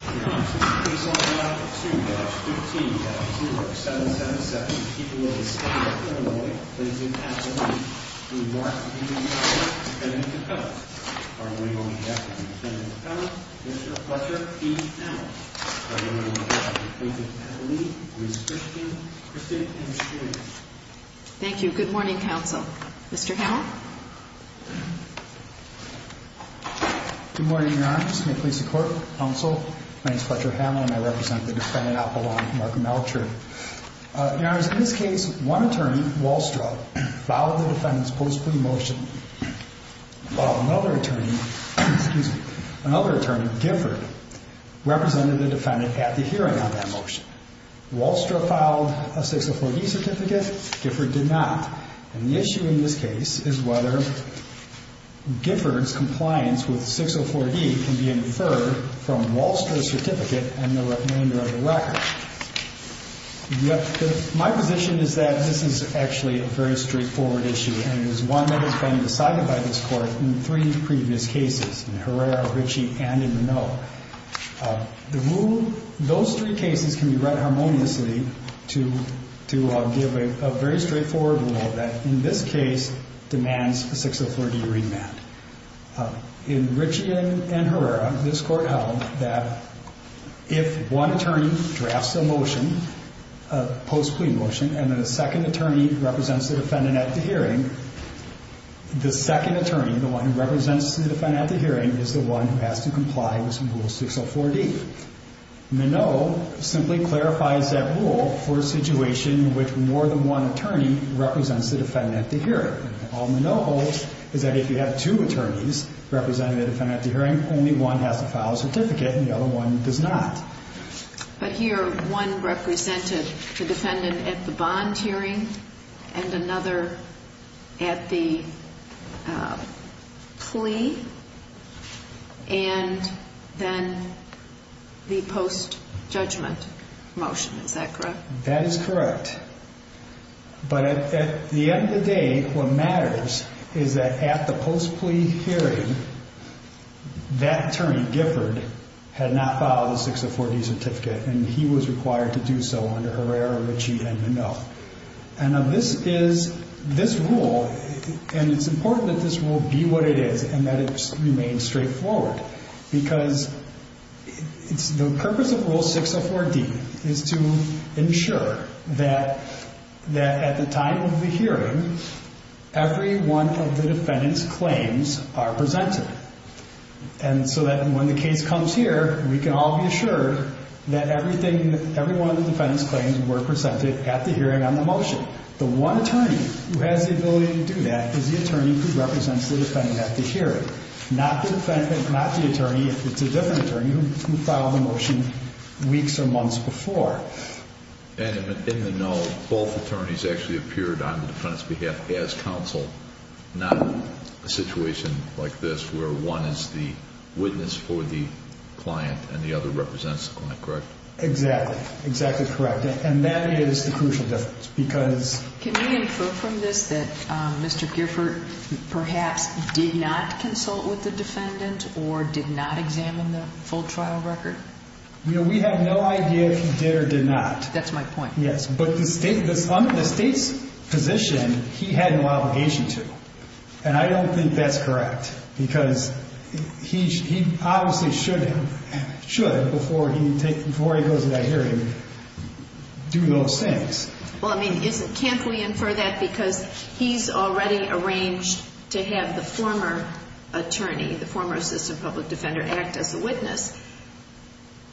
2-15-0777, people of the state of Illinois, please do not leave, do not leave the area depending on the code. Are we going to have to depend on the code? Mr. Fletcher v. Hamel. Are we going to have to depend on the lead? Ms. Fishkin, Kristen, and Mr. Williams. Thank you. Good morning, counsel. Mr. Hamel. Good morning, Your Honor. I just want to please the court, counsel. My name is Fletcher Hamel and I represent the defendant outlaw, Malcolm Malchert. Your Honor, in this case, one attorney, Walstra, filed the defendant's post-plea motion while another attorney, Gifford, represented the defendant at the hearing on that motion. Walstra filed a 604-D certificate. Gifford did not. And the issue in this case is whether Gifford's compliance with 604-D can be inferred from Walstra's certificate and the remainder of the record. My position is that this is actually a very straightforward issue and it is one that has been decided by this court in three previous cases, in Herrera, Ritchie, and in Reneau. The rule, those three cases can be read harmoniously to give a very straightforward rule that in this case demands a 604-D remand. In Ritchie and Herrera, this court held that if one attorney drafts a motion, a post-plea motion, and then a second attorney represents the defendant at the hearing, the second attorney, the one who represents the defendant at the hearing, is the one who has to comply with rule 604-D. Reneau simply clarifies that rule for a situation in which more than one attorney represents the defendant at the hearing. All Reneau holds is that if you have two attorneys representing the defendant at the hearing, only one has to file a certificate and the other one does not. But here, one represented the defendant at the bond hearing and another at the plea and then the post-judgment motion. Is that correct? That is correct. But at the end of the day, what matters is that at the post-plea hearing, that attorney, Gifford, had not filed a 604-D certificate and he was required to do so under Herrera, Ritchie, and Reneau. And now this is, this rule, and it's important that this rule be what it is and that it remains straightforward. Because the purpose of rule 604-D is to ensure that at the time of the hearing, every one of the defendant's claims are presented. And so that when the case comes here, we can all be assured that every one of the defendant's claims were presented at the hearing on the motion. The one attorney who has the ability to do that is the attorney who represents the defendant at the hearing, not the attorney, if it's a different attorney, who filed the motion weeks or months before. And in the note, both attorneys actually appeared on the defendant's behalf as counsel, not a situation like this where one is the witness for the client and the other represents the client, correct? Exactly. Exactly correct. And that is the crucial difference because... Can we infer from this that Mr. Gifford perhaps did not consult with the defendant or did not examine the full trial record? You know, we have no idea if he did or did not. That's my point. Yes, but under the state's position, he had no obligation to. And I don't think that's correct because he obviously should, before he goes to that hearing, do those things. Well, I mean, can't we infer that because he's already arranged to have the former attorney, the former assistant public defender, act as a witness.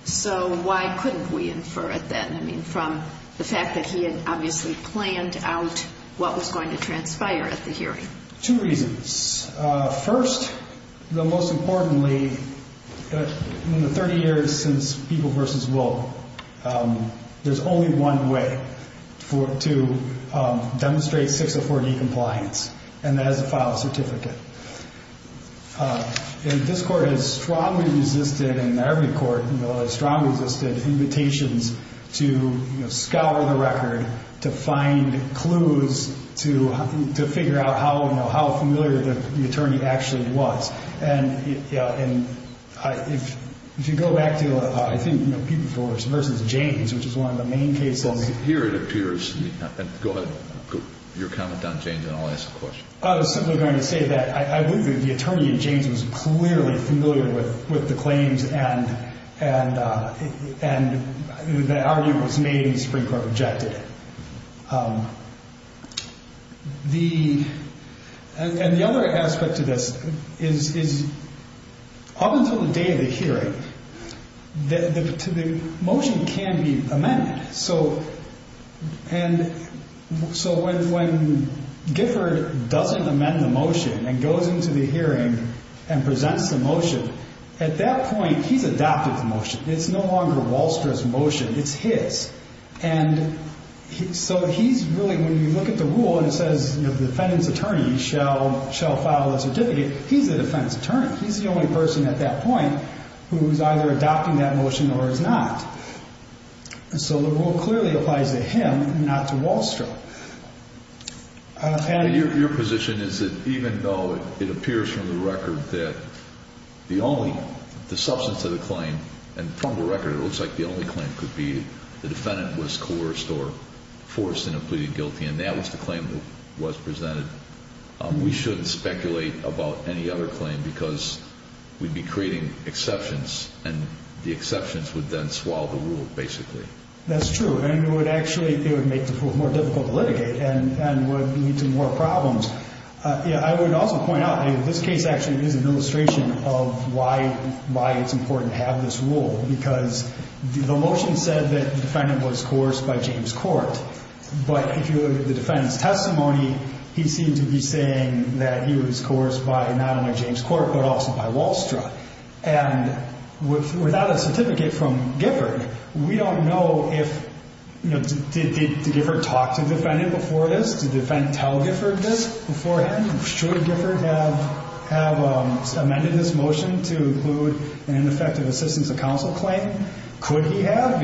So why couldn't we infer it then, I mean, from the fact that he had obviously planned out what was going to transpire at the hearing? Two reasons. First, though, most importantly, in the 30 years since People v. Will, there's only one way to demonstrate 604D compliance, and that is to file a certificate. And this Court has strongly resisted, and every Court has strongly resisted, invitations to scour the record, to find clues, to figure out how familiar the attorney actually was. And if you go back to, I think, People v. James, which is one of the main cases... Well, here it appears... Go ahead. Your comment on James and I'll ask the question. I was simply going to say that I believe that the attorney in James was clearly familiar with the claims, and the argument was made and the Supreme Court rejected it. And the other aspect to this is up until the day of the hearing, the motion can be amended. And so when Gifford doesn't amend the motion and goes into the hearing and presents the motion, at that point, he's adopted the motion. It's no longer Wallstra's motion. It's his. And so he's really... When you look at the rule and it says the defendant's attorney shall file a certificate, he's the defendant's attorney. He's the only person at that point who's either adopting that motion or is not. And so the rule clearly applies to him and not to Wallstra. Your position is that even though it appears from the record that the only... The substance of the claim... And from the record, it looks like the only claim could be the defendant was coerced or forced into pleading guilty, and that was the claim that was presented. We shouldn't speculate about any other claim because we'd be creating exceptions, and the exceptions would then swallow the rule, basically. That's true, and it would actually... It would make it more difficult to litigate and would lead to more problems. I would also point out, this case actually is an illustration of why it's important to have this rule, because the motion said that the defendant was coerced by James Court. But if you look at the defendant's testimony, he seemed to be saying that he was coerced by not only James Court, but also by Wallstra. And without a certificate from Gifford, we don't know if... Did Gifford talk to the defendant before this? Did the defendant tell Gifford this beforehand? Should Gifford have amended this motion to include an ineffective assistance of counsel claim? Could he have?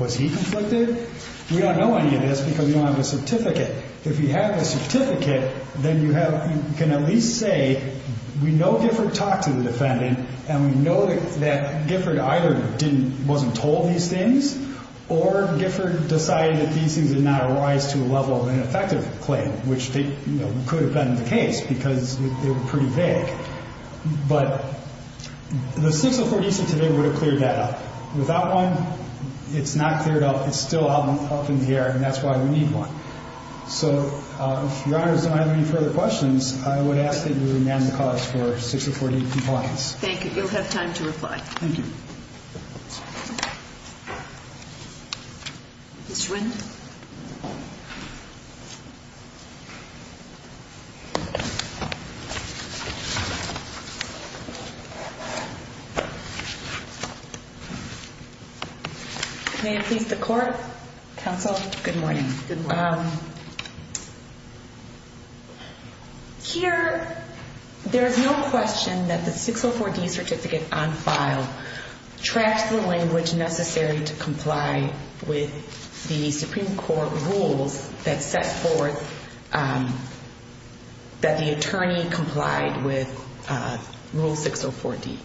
Was he conflicted? We don't know any of this because we don't have a certificate. If you have a certificate, then you can at least say, we know Gifford talked to the defendant, and we know that Gifford either wasn't told these things or Gifford decided that these things did not arise to a level of an effective claim, which could have been the case because they were pretty vague. But the 604-DC today would have cleared that up. Without one, it's not cleared up. It's still up in the air, and that's why we need one. So, Your Honors, if you don't have any further questions, I would ask that you amend the clause for 604-DC compliance. Thank you. You'll have time to reply. Thank you. Ms. Rind? May it please the Court, Counsel? Good morning. Good morning. Here, there is no question that the 604-D certificate on file tracks the language necessary to comply with the Supreme Court rules that set forth that the attorney complied with Rule 604-D.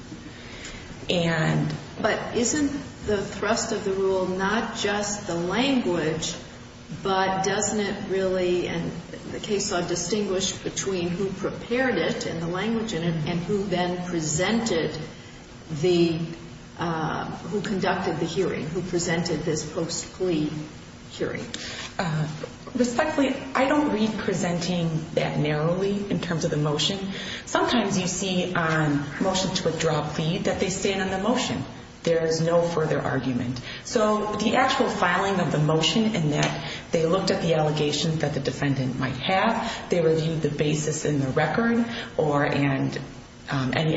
But isn't the thrust of the rule not just the language, but doesn't it really, in the case law, distinguish between who prepared it and the language in it and who then presented the, who conducted the hearing, who presented this post-plea hearing? Respectfully, I don't read presenting that narrowly in terms of the motion. Sometimes you see on motions to withdraw a plea that they stand on the motion. There is no further argument. So the actual filing of the motion in that they looked at the allegations that the defendant might have. They reviewed the basis in the record or any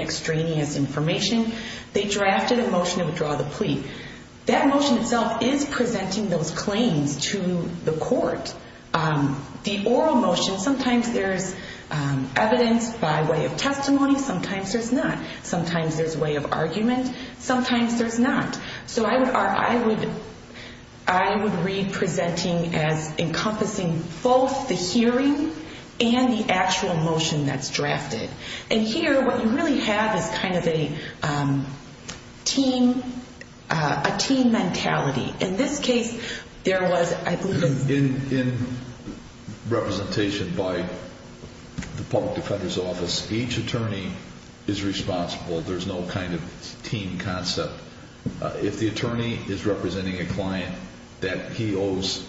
extraneous information. They drafted a motion to withdraw the plea. That motion itself is presenting those claims to the Court. The oral motion, sometimes there is evidence by way of testimony. Sometimes there's not. Sometimes there's way of argument. Sometimes there's not. So I would read presenting as encompassing both the hearing and the actual motion that's drafted. And here, what you really have is kind of a team mentality. In this case, there was, I believe it's- In representation by the Public Defender's Office, each attorney is responsible. There's no kind of team concept. If the attorney is representing a client, that he owes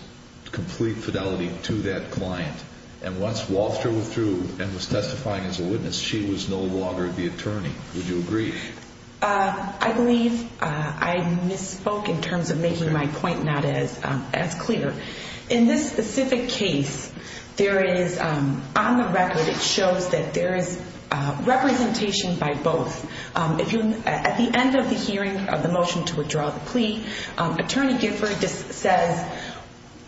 complete fidelity to that client. And once Walther withdrew and was testifying as a witness, she was no longer the attorney. Would you agree? I believe I misspoke in terms of making my point not as clear. In this specific case, there is- On the record, it shows that there is representation by both. At the end of the hearing of the motion to withdraw the plea, Attorney Gifford says,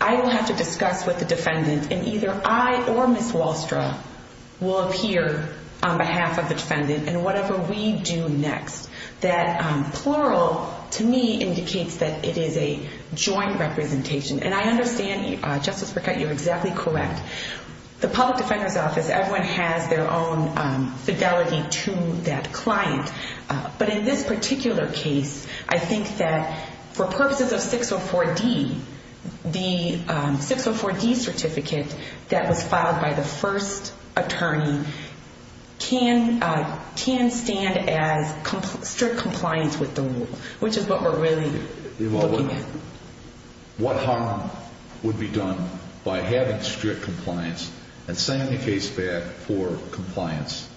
I will have to discuss with the defendant. And either I or Ms. Wallstra will appear on behalf of the defendant. And whatever we do next. That plural, to me, indicates that it is a joint representation. And I understand, Justice Burkett, you're exactly correct. The Public Defender's Office, everyone has their own fidelity to that client. But in this particular case, I think that for purposes of 604D, the 604D certificate that was filed by the first attorney can stand as strict compliance with the rule. Which is what we're really looking at. What harm would be done by having strict compliance and sending the case back for compliance?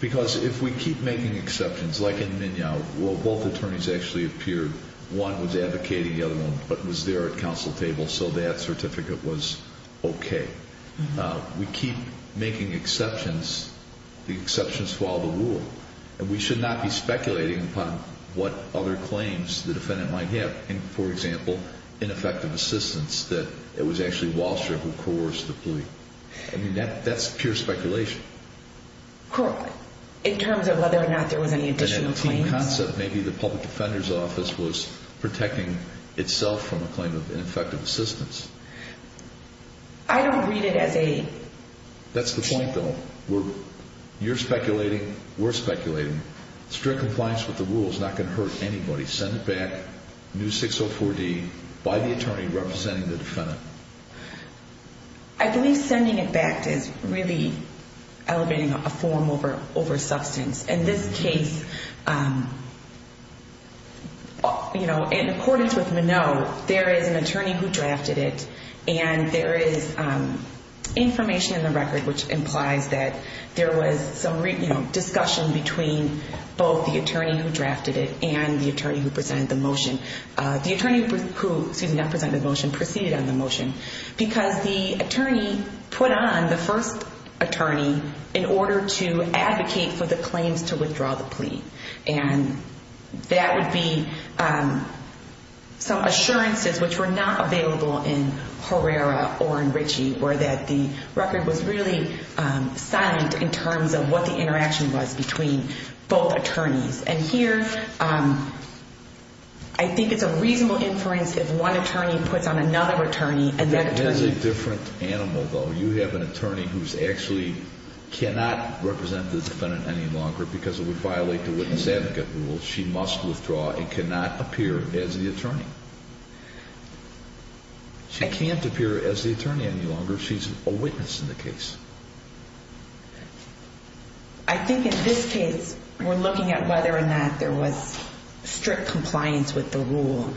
Because if we keep making exceptions, like in Mignot, where both attorneys actually appeared, one was advocating the other one, but was there at council table, so that certificate was okay. We keep making exceptions. The exceptions follow the rule. And we should not be speculating upon what other claims the defendant might have. For example, ineffective assistance. That it was actually Wallstra who coerced the plea. I mean, that's pure speculation. In terms of whether or not there was any additional claims? The concept may be the Public Defender's Office was protecting itself from a claim of ineffective assistance. I don't read it as a... That's the point, though. You're speculating, we're speculating. Strict compliance with the rule is not going to hurt anybody. Send it back, new 604D, by the attorney representing the defendant. I believe sending it back is really elevating a form over substance. In this case, you know, in accordance with Mignot, there is an attorney who drafted it, and there is information in the record which implies that there was some discussion between both the attorney who drafted it and the attorney who presented the motion. The attorney who presented the motion proceeded on the motion because the attorney put on, the first attorney, in order to advocate for the claims to withdraw the plea. And that would be some assurances which were not available in Herrera or in Ritchie were that the record was really silent in terms of what the interaction was between both attorneys. And here, I think it's a reasonable inference if one attorney puts on another attorney and that attorney... That is a different animal, though. You have an attorney who actually cannot represent the defendant any longer because it would violate the witness-advocate rule. She must withdraw and cannot appear as the attorney. She can't appear as the attorney any longer. She's a witness in the case. I think in this case, we're looking at whether or not there was strict compliance with the rule.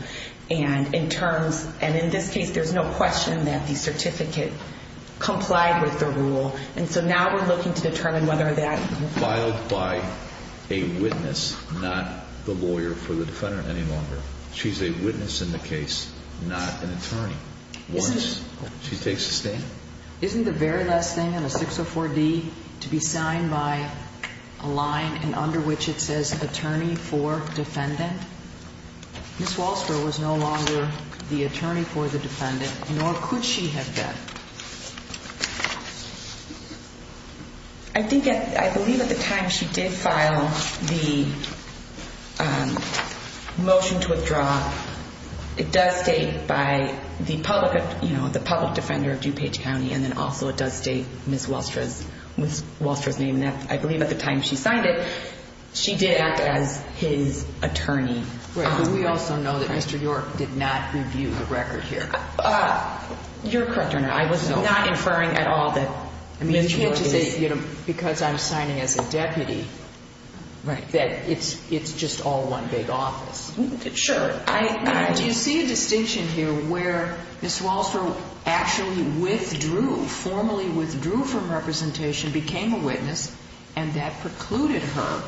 And in this case, there's no question that the certificate complied with the rule. And so now we're looking to determine whether that... Filed by a witness, not the lawyer for the defendant any longer. She's a witness in the case, not an attorney. Once she takes a stand. Isn't the very last thing in a 604D to be signed by a line and under which it says, Attorney for Defendant? Ms. Walstra was no longer the attorney for the defendant, nor could she have been. I believe at the time she did file the motion to withdraw, it does state by the public defender of DuPage County, and then also it does state Ms. Walstra's name. I believe at the time she signed it, she did act as his attorney. We also know that Mr. York did not review the record here. You're correct, Your Honor. I was not inferring at all that Mr. York is... Because I'm signing as a deputy, that it's just all one big office. Sure. Do you see a distinction here where Ms. Walstra actually withdrew, formally withdrew from representation, became a witness, and that precluded her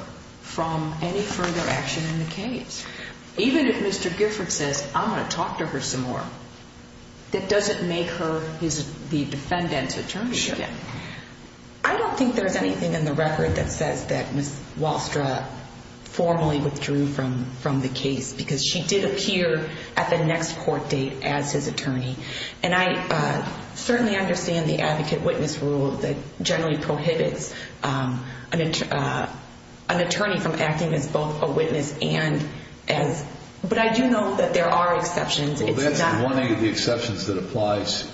from any further action in the case? Even if Mr. Gifford says, I'm going to talk to her some more, that doesn't make her the defendant's attorney again. Sure. I don't think there's anything in the record that says that Ms. Walstra formally withdrew from the case, because she did appear at the next court date as his attorney. And I certainly understand the advocate witness rule that generally prohibits an attorney from acting as both a witness and as... But I do know that there are exceptions. Well, that's one of the exceptions that applies,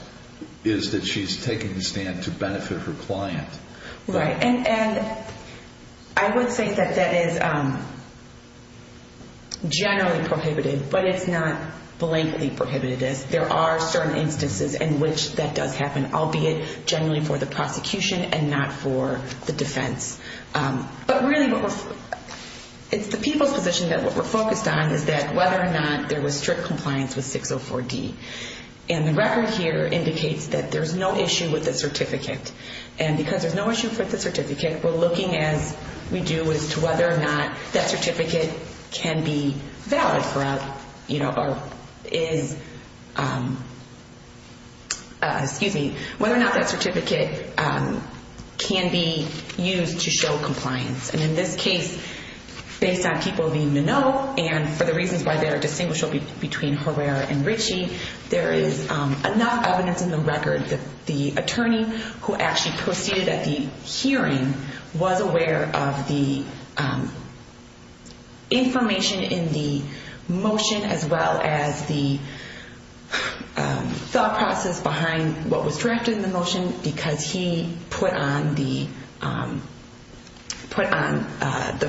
is that she's taking the stand to benefit her client. Right. And I would say that that is generally prohibited, but it's not blankly prohibited. There are certain instances in which that does happen, albeit generally for the prosecution and not for the defense. But really, it's the people's position that what we're focused on is that whether or not there was strict compliance with 604D. And the record here indicates that there's no issue with the certificate. And because there's no issue with the certificate, we're looking as we do as to whether or not that certificate can be valid for us, you know, or is, excuse me, whether or not that certificate can be used to show compliance. And in this case, based on people needing to know, and for the reasons why they are distinguishable between Herrera and Ritchie, there is enough evidence in the record that the attorney who actually proceeded at the hearing was aware of the information in the motion as well as the thought process behind what was drafted in the motion because he put on the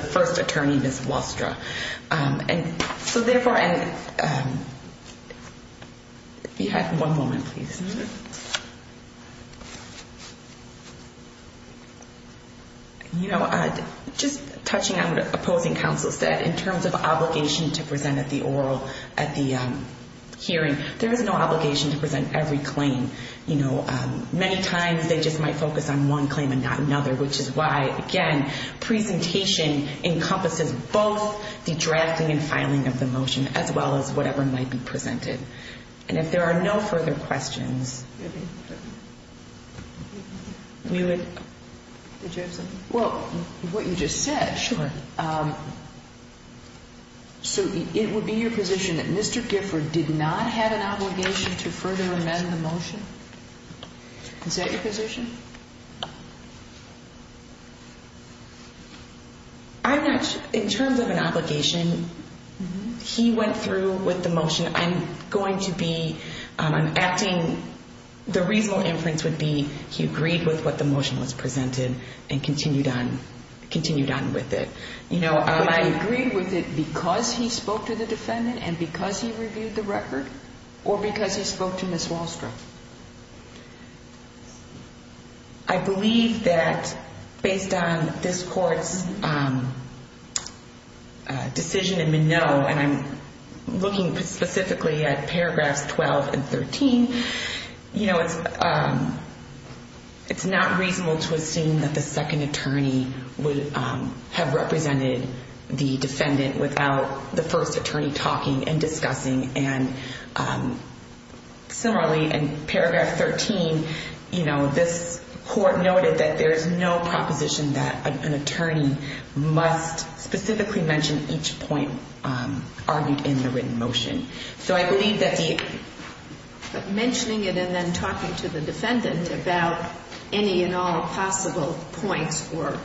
first attorney, Ms. Wallstra. And so therefore, and if you had one moment, please. You know, just touching on what opposing counsel said, in terms of obligation to present at the oral, at the hearing, there is no obligation to present every claim. You know, many times they just might focus on one claim and not another, which is why, again, presentation encompasses both the drafting and filing of the motion as well as whatever might be presented. And if there are no further questions, we would… Did you have something? Well, what you just said. Sure. So it would be your position that Mr. Gifford did not have an obligation to further amend the motion? Is that your position? I'm not… In terms of an obligation, he went through with the motion. I'm going to be… I'm acting… The reasonable inference would be he agreed with what the motion was presented and continued on with it. Would he agree with it because he spoke to the defendant and because he reviewed the record or because he spoke to Ms. Wahlstrom? I believe that based on this Court's decision in Minot, and I'm looking specifically at paragraphs 12 and 13, you know, it's not reasonable to assume that the second attorney would have represented the defendant without the first attorney talking and discussing. And similarly, in paragraph 13, you know, this Court noted that there is no proposition that an attorney must specifically mention each point argued in the written motion. So I believe that the… But mentioning it and then talking to the defendant about any and all possible points or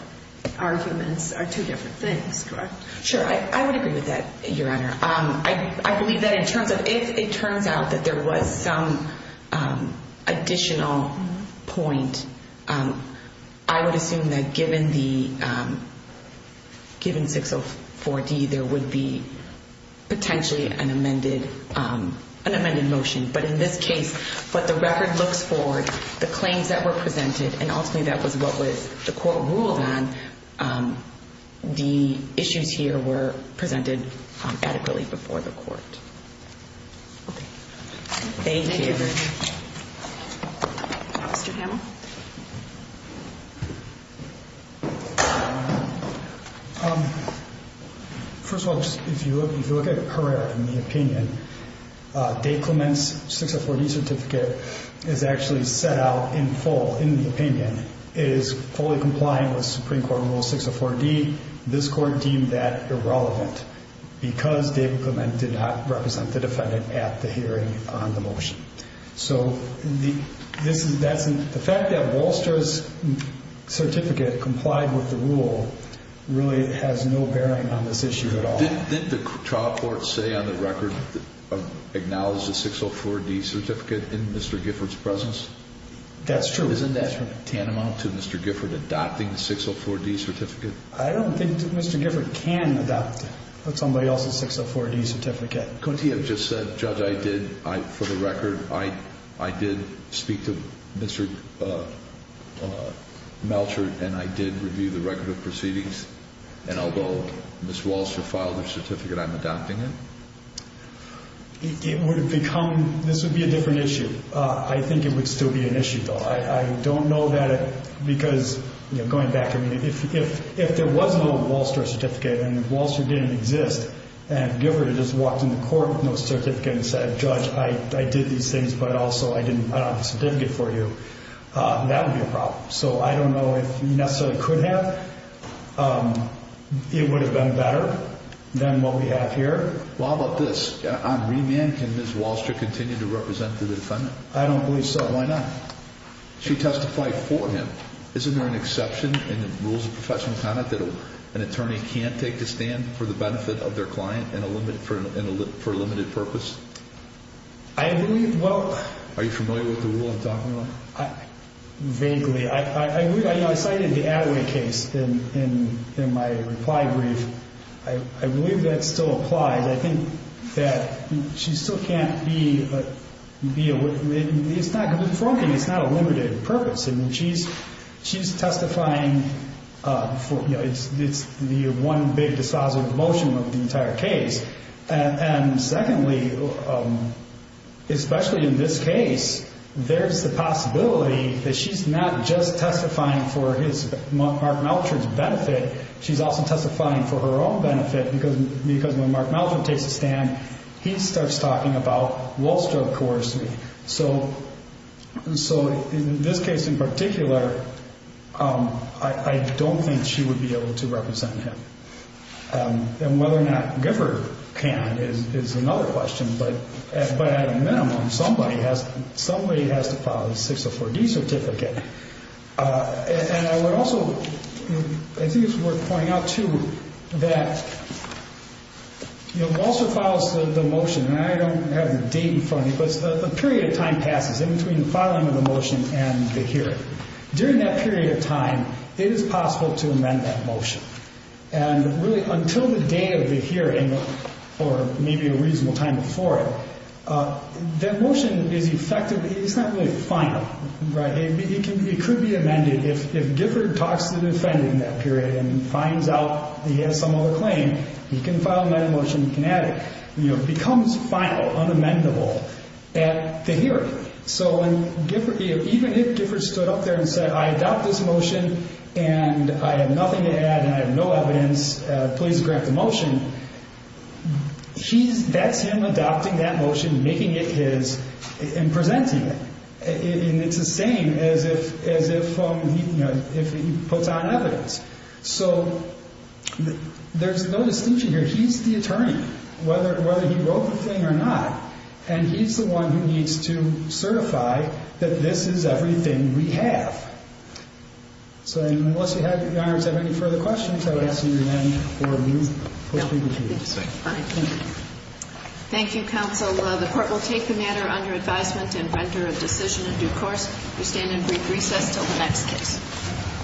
arguments are two different things, correct? Sure, I would agree with that, Your Honor. I believe that in terms of if it turns out that there was some additional point, I would assume that given 604D, there would be potentially an amended motion. But in this case, what the record looks for, the claims that were presented, and ultimately that was what the Court ruled on, the issues here were presented adequately before the Court. Thank you. Mr. Hamel? First of all, if you look at Herrera in the opinion, Dave Clement's 604D certificate is actually set out in full in the opinion. It is fully compliant with Supreme Court Rule 604D. This Court deemed that irrelevant because Dave Clement did not represent the defendant at the hearing on the motion. So the fact that Wolster's certificate complied with the rule really has no bearing on this issue at all. Didn't the trial court say on the record acknowledge the 604D certificate in Mr. Gifford's presence? That's true. Isn't that tantamount to Mr. Gifford adopting the 604D certificate? I don't think Mr. Gifford can adopt somebody else's 604D certificate. Couldn't he have just said, Judge, I did, for the record, I did speak to Mr. Melcher and I did review the record of proceedings, and although Ms. Wolster filed her certificate, I'm adopting it? This would be a different issue. I think it would still be an issue, though. I don't know that because, going back, if there was no Wolster certificate and Wolster didn't exist and Gifford just walked into court with no certificate and said, Judge, I did these things, but also I didn't file the certificate for you, that would be a problem. So I don't know if he necessarily could have. It would have been better than what we have here. Well, how about this? On remand, can Ms. Wolster continue to represent the defendant? I don't believe so. Why not? She testified for him. Isn't there an exception in the rules of professional conduct that an attorney can't take the stand for the benefit of their client for a limited purpose? I agree. Are you familiar with the rule I'm talking about? Vaguely. I cited the Attaway case in my reply brief. I believe that still applies. I think that she still can't be a witness. It's not a limited purpose. I mean, she's testifying for, you know, it's the one big dispositive motion of the entire case. And secondly, especially in this case, there's the possibility that she's not just testifying for Mark Maltrand's benefit, she's also testifying for her own benefit, because when Mark Maltrand takes the stand, he starts talking about Wolster coercion. So in this case in particular, I don't think she would be able to represent him. And whether or not Gifford can is another question. But at a minimum, somebody has to file a 604D certificate. And I would also, I think it's worth pointing out, too, that, you know, Wolster files the motion, and I don't have the date in front of me, but the period of time passes in between the filing of the motion and the hearing. During that period of time, it is possible to amend that motion. And really, until the day of the hearing, or maybe a reasonable time before it, that motion is effectively, it's not really final. It could be amended. If Gifford talks to the defendant in that period and finds out that he has some other claim, he can file that motion, he can add it. It becomes final, unamendable at the hearing. So even if Gifford stood up there and said, I adopt this motion, and I have nothing to add, and I have no evidence, please grant the motion, that's him adopting that motion, making it his, and presenting it. And it's the same as if he puts out evidence. So there's no distinction here. He's the attorney, whether he wrote the thing or not. And he's the one who needs to certify that this is everything we have. So unless you, Your Honor, have any further questions, I would ask you to end or move. No. Thank you. Thank you, counsel. The Court will take the matter under advisement and render a decision in due course. We stand in brief recess until the next case.